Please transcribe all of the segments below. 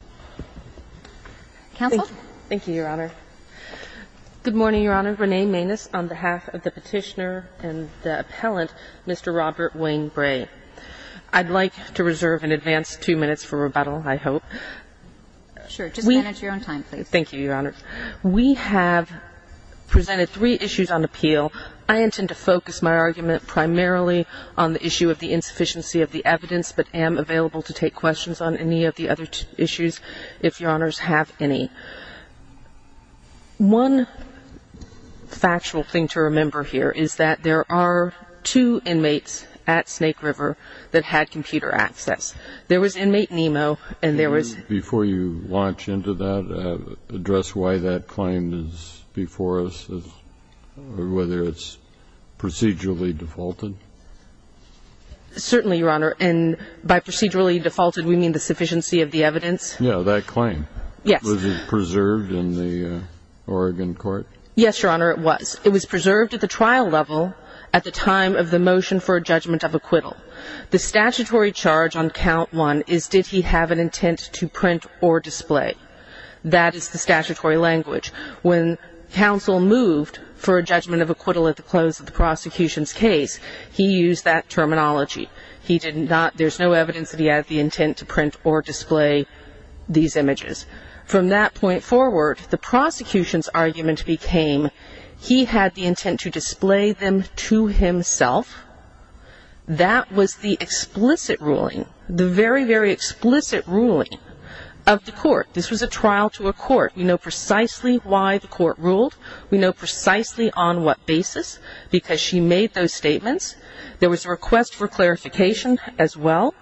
on behalf of the Petitioner and the Appellant, Mr. Robert Wayne Bray. I'd like to reserve an advance two minutes for rebuttal, I hope. Sure. Just manage your own time, please. Thank you, Your Honor. We have presented three issues on appeal. I intend to focus my argument primarily on the issue of the insufficiency of the evidence but am available to take questions on any of the other issues. If Your Honors have any. One factual thing to remember here is that there are two inmates at Snake River that had computer access. There was inmate Nemo and there was... Before you launch into that, address why that claim is before us or whether it's procedurally defaulted. Certainly, Your Honor. And by procedurally defaulted we mean the sufficiency of the evidence? Yes. Yeah, that claim. Yes. Was it preserved in the Oregon court? Yes, Your Honor, it was. It was preserved at the trial level at the time of the motion for a judgment of acquittal. The statutory charge on count one is did he have an intent to print or display. That is the statutory language. When counsel moved for a judgment of acquittal at the close of the prosecution's case, he used that terminology. There's no evidence that he had the intent to print or display these images. From that point forward, the prosecution's argument became he had the intent to display them to himself. That was the explicit ruling, the very, very explicit ruling of the court. This was a trial to a court. We know precisely why the court ruled. We know precisely on what basis because she made those statements. There was a request for clarification as well,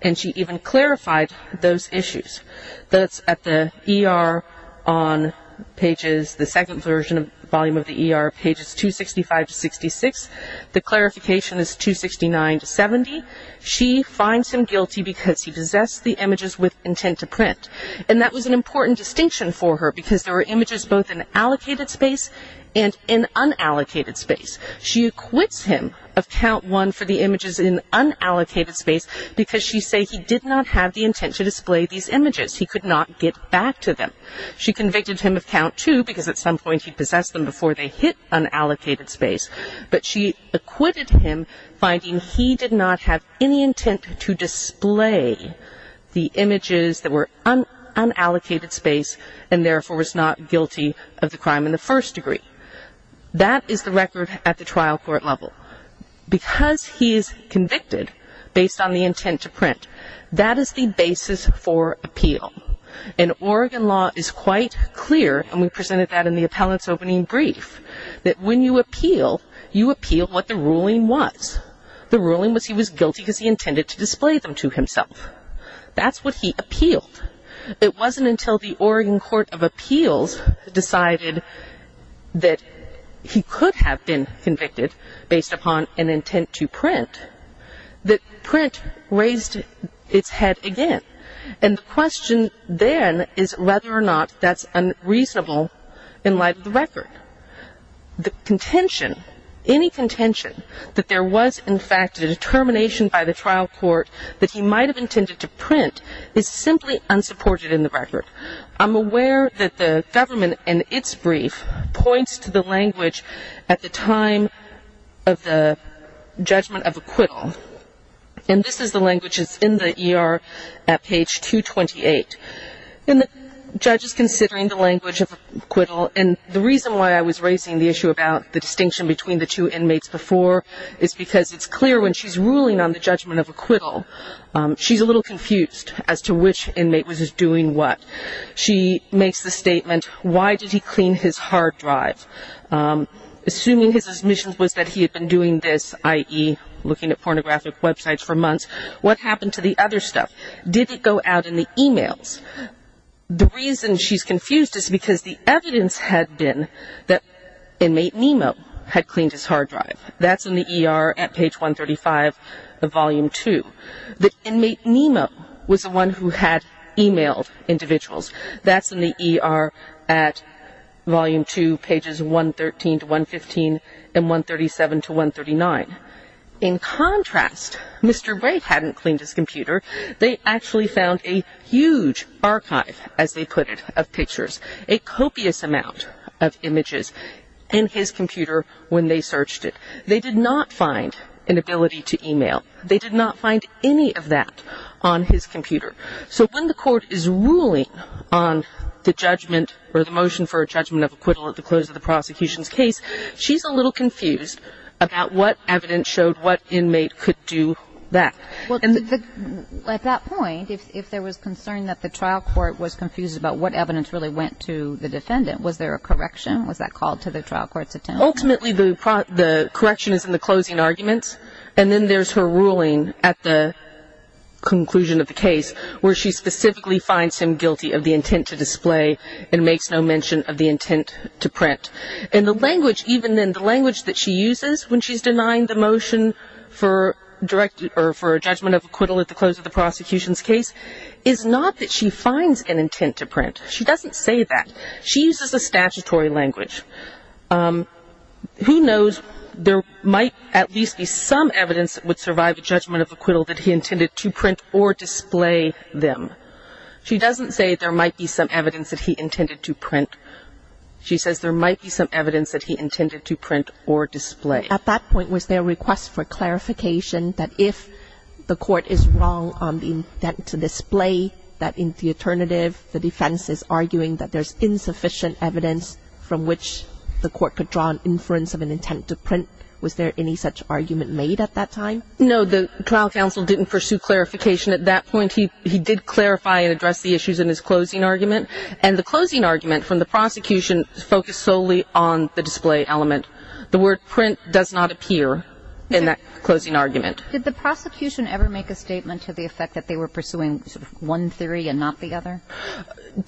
and she even clarified those issues. That's at the ER on pages, the second version of the volume of the ER, pages 265 to 66. The clarification is 269 to 70. She finds him guilty because he possessed the images with intent to print, and that was an important distinction for her because there were images both in allocated space and in unallocated space. She acquits him of count one for the images in unallocated space because she said he did not have the intent to display these images. He could not get back to them. She convicted him of count two because at some point he possessed them before they hit unallocated space. But she acquitted him, finding he did not have any intent to display the images that were unallocated space and therefore was not guilty of the crime in the first degree. That is the record at the trial court level. Because he is convicted based on the intent to print, that is the basis for appeal. And Oregon law is quite clear, and we presented that in the appellant's opening brief, that when you appeal, you appeal what the ruling was. The ruling was he was guilty because he intended to display them to himself. That's what he appealed. It wasn't until the Oregon Court of Appeals decided that he could have been convicted based upon an intent to print that print raised its head again. And the question then is whether or not that's unreasonable in light of the record. The contention, any contention, that there was in fact a determination by the trial court that he might have intended to print is simply unsupported in the record. I'm aware that the government in its brief points to the language at the time of the judgment of acquittal. And this is the language that's in the ER at page 228. And the judge is considering the language of acquittal, and the reason why I was raising the issue about the distinction between the two inmates before is because it's clear when she's ruling on the judgment of acquittal, she's a little confused as to which inmate was doing what. She makes the statement, why did he clean his hard drive? Assuming his admission was that he had been doing this, i.e., looking at pornographic websites for months, what happened to the other stuff? Did it go out in the e-mails? The reason she's confused is because the evidence had been that inmate Nemo had cleaned his hard drive. That's in the ER at page 135 of volume 2. The inmate Nemo was the one who had e-mailed individuals. That's in the ER at volume 2, pages 113 to 115 and 137 to 139. In contrast, Mr. Wright hadn't cleaned his computer. They actually found a huge archive, as they put it, of pictures, a copious amount of images in his computer when they searched it. They did not find an ability to e-mail. They did not find any of that on his computer. So when the court is ruling on the judgment or the motion for a judgment of acquittal at the close of the prosecution's case, she's a little confused about what evidence showed what inmate could do that. At that point, if there was concern that the trial court was confused about what evidence really went to the defendant, was there a correction? Was that called to the trial court's attention? Ultimately, the correction is in the closing arguments, and then there's her ruling at the conclusion of the case where she specifically finds him guilty of the intent to display and makes no mention of the intent to print. And the language, even then, the language that she uses when she's denying the motion for a judgment of acquittal at the close of the prosecution's case is not that she finds an intent to print. She doesn't say that. She uses a statutory language. Who knows, there might at least be some evidence that would survive a judgment of acquittal that he intended to print or display them. She doesn't say there might be some evidence that he intended to print. She says there might be some evidence that he intended to print or display. At that point, was there a request for clarification that if the court is wrong on the intent to display, that in the alternative the defense is arguing that there's insufficient evidence from which the court could draw an inference of an intent to print? Was there any such argument made at that time? No, the trial counsel didn't pursue clarification at that point. He did clarify and address the issues in his closing argument. And the closing argument from the prosecution focused solely on the display element. The word print does not appear in that closing argument. Did the prosecution ever make a statement to the effect that they were pursuing sort of one theory and not the other?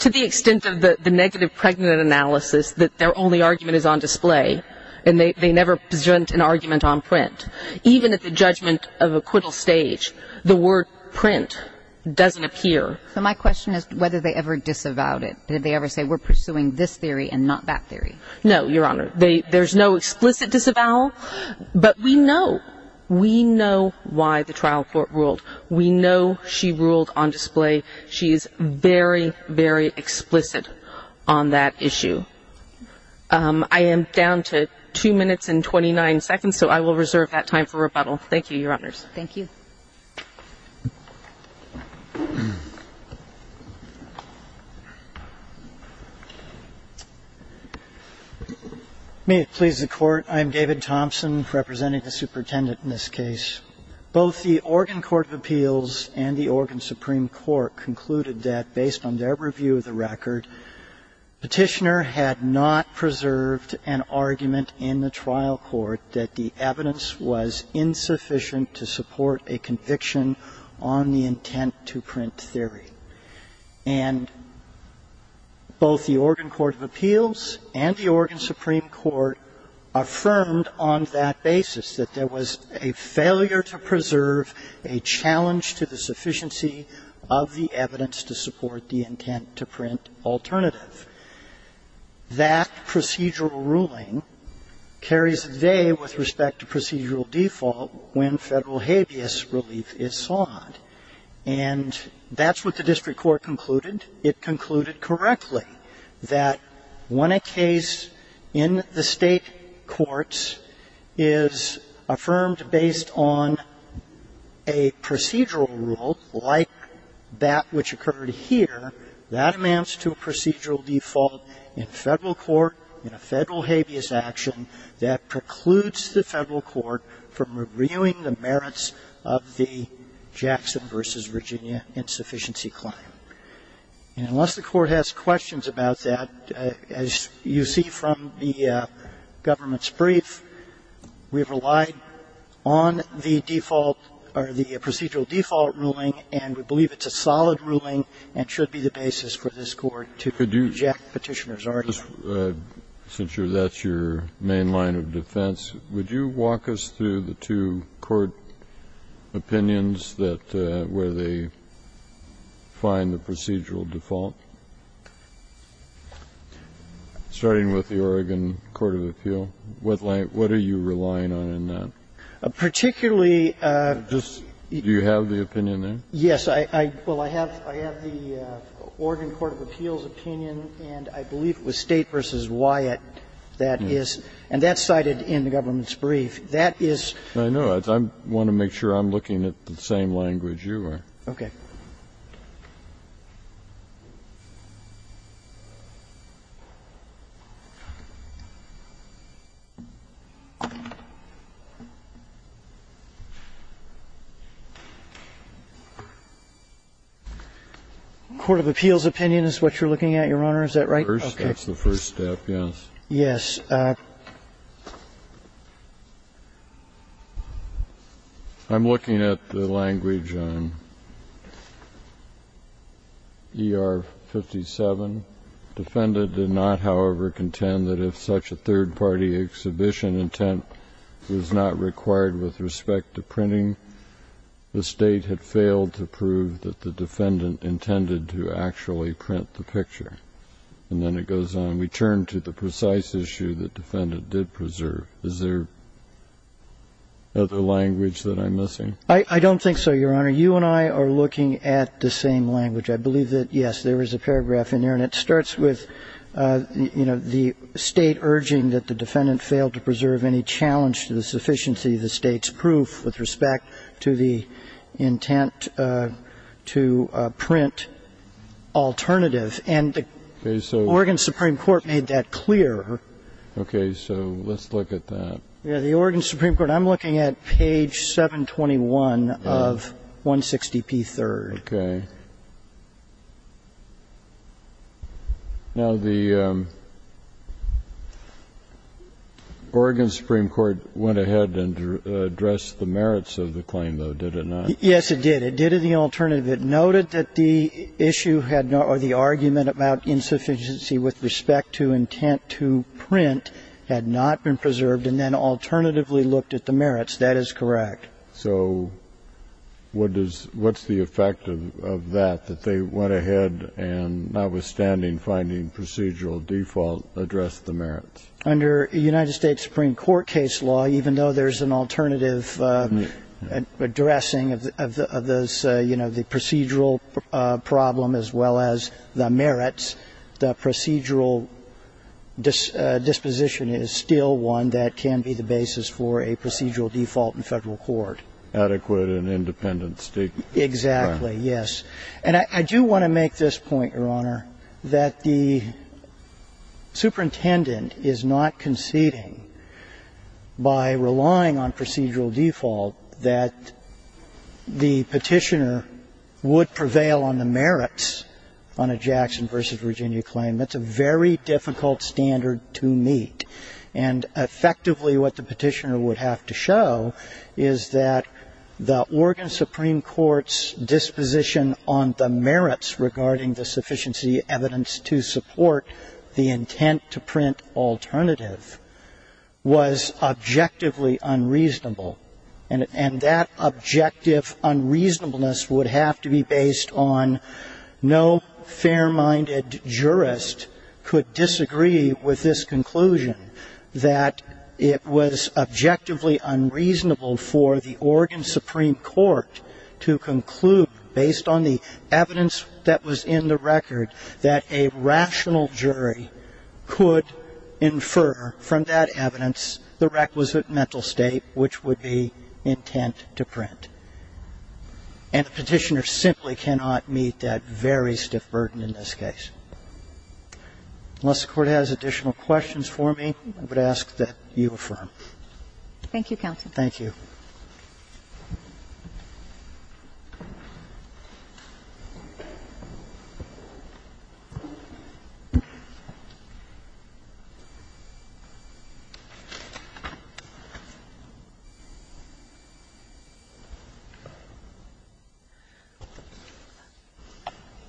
To the extent of the negative pregnant analysis that their only argument is on display and they never present an argument on print. Even at the judgment of acquittal stage, the word print doesn't appear. So my question is whether they ever disavowed it. Did they ever say we're pursuing this theory and not that theory? No, Your Honor. There's no explicit disavowal. But we know, we know why the trial court ruled. We know she ruled on display. She is very, very explicit on that issue. I am down to 2 minutes and 29 seconds, so I will reserve that time for rebuttal. Thank you, Your Honors. Thank you. Thompson. May it please the Court. I am David Thompson, representing the superintendent in this case. Both the Oregon Court of Appeals and the Oregon Supreme Court concluded that, based on their review of the record, Petitioner had not preserved an argument in the trial court that the evidence was insufficient to support a conviction on the intent to print theory. And both the Oregon Court of Appeals and the Oregon Supreme Court affirmed on that basis that there was a failure to preserve a challenge to the sufficiency of the evidence to support the intent to print alternative. That procedural ruling carries a day with respect to procedural default when Federal habeas relief is sought. And that's what the district court concluded. It concluded correctly that when a case in the State courts is affirmed based on a procedural rule like that which occurred here, that amounts to a procedural default in Federal court in a Federal habeas action that precludes the Federal court from reviewing the merits of the Jackson v. Virginia insufficiency claim. And unless the court has questions about that, as you see from the government's brief, we have relied on the procedural default ruling, and we believe it's a solid ruling and should be the basis for this Court to reject Petitioner's argument. Kennedy, since that's your main line of defense, would you walk us through the two court opinions that where they find the procedural default, starting with the Oregon Court of Appeal? What are you relying on in that? Particularly this do you have the opinion there? Yes. Well, I have the Oregon Court of Appeal's opinion, and I believe it was State v. Wyatt that is, and that's cited in the government's brief, that is. I know. I want to make sure I'm looking at the same language you are. Okay. The Oregon Court of Appeal's opinion is what you're looking at, Your Honor. Is that right? That's the first step, yes. Yes. I'm looking at the language on ER-57. Defendant did not, however, contend that if such a third-party exhibition intent was not required with respect to printing, the State had failed to prove that the defendant intended to actually print the picture. And then it goes on. We turn to the precise issue that defendant did preserve. Is there other language that I'm missing? I don't think so, Your Honor. You and I are looking at the same language. I believe that, yes, there is a paragraph in there, and it starts with, you know, the State urging that the defendant failed to preserve any challenge to the sufficiency of the State's proof with respect to the intent to print alternative. And the Oregon Supreme Court made that clear. Okay. So let's look at that. The Oregon Supreme Court. I'm looking at page 721 of 160p3. Okay. Now, the Oregon Supreme Court went ahead and addressed the merits of the claim, though, did it not? Yes, it did. It did in the alternative. It noted that the issue or the argument about insufficiency with respect to intent to print had not been preserved and then alternatively looked at the merits. That is correct. So what's the effect of that, that they went ahead and, notwithstanding finding procedural default, addressed the merits? Under United States Supreme Court case law, even though there's an alternative addressing of the procedural problem as well as the merits, the procedural disposition is still one that can be the basis for a procedural default in Federal court. Adequate and independent statement. Exactly, yes. And I do want to make this point, Your Honor, that the superintendent is not conceding by relying on procedural default that the petitioner would prevail on the merits on a Jackson v. Virginia claim. That's a very difficult standard to meet. And effectively what the petitioner would have to show is that the Oregon Supreme Court's disposition on the merits regarding the sufficiency evidence to support the intent to print alternative was objectively unreasonable. And that objective unreasonableness would have to be based on no fair-minded jurist could disagree with this conclusion, that it was objectively unreasonable for the Oregon Supreme Court to conclude, based on the evidence that was in the case, that the jury could infer from that evidence the requisite mental state which would be intent to print. And the petitioner simply cannot meet that very stiff burden in this case. Unless the Court has additional questions for me, I would ask that you affirm. Thank you, counsel. Thank you.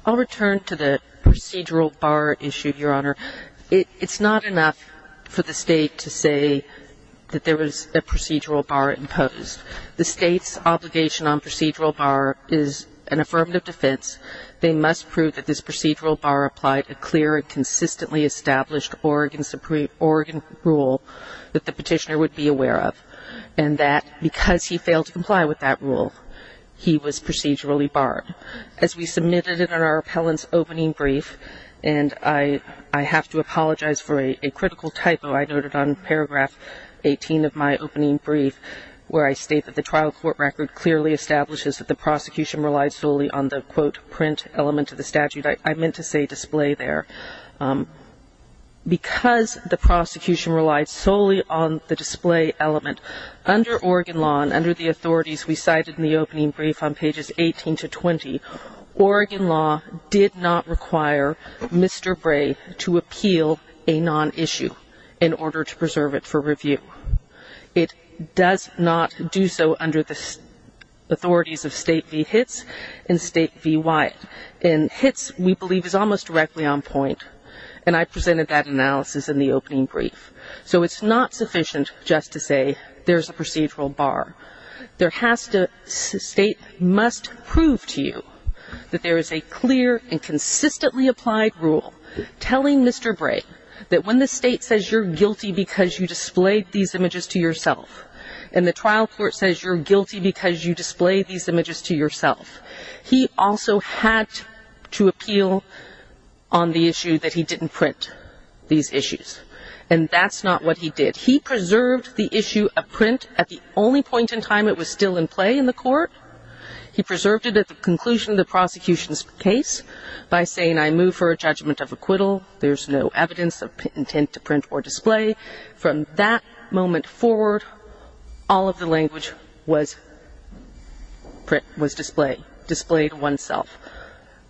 I'll return to the procedural bar issue, Your Honor. It's not enough for the State to say that there was a procedural bar imposed. The State's obligation on procedural bar is an affirmative defense. They must prove that this procedural bar applied a clear and consistently established Oregon rule that the petitioner would be aware of. And that because he failed to comply with that rule, he was procedurally barred. As we submitted it in our appellant's opening brief, and I have to apologize for a critical typo I noted on paragraph 18 of my opening brief, where I state that the trial court record clearly establishes that the prosecution relied solely on the, quote, print element of the statute. I meant to say display there. Because the prosecution relied solely on the display element, under Oregon law and under the authorities we cited in the opening brief on pages 18 to 20, Oregon law did not require Mr. Bray to appeal a non-issue in order to preserve it for review. It does not do so under the authorities of State v. Hitz and State v. Wyatt. And Hitz, we believe, is almost directly on point. And I presented that analysis in the opening brief. So it's not sufficient just to say there's a procedural bar. There has to, State must prove to you that there is a clear and consistently applied rule telling Mr. Bray that when the State says you're guilty because you displayed these images to yourself, and the trial court says you're guilty because you displayed these images to yourself, he also had to appeal on the issue that he didn't print these issues. And that's not what he did. He preserved the issue of print at the only point in time it was still in play in the court. He preserved it at the conclusion of the prosecution's case by saying I move for a judgment of acquittal. There's no evidence of intent to print or display. From that moment forward, all of the language was print, was displayed, displayed oneself.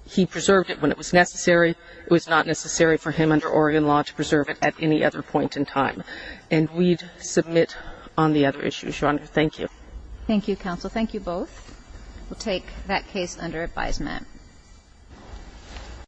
He preserved it when it was necessary. It was not necessary for him under Oregon law to preserve it at any other point in time. And we'd submit on the other issues, Your Honor. Thank you. Thank you, counsel. Thank you both. We'll take that case under advisement.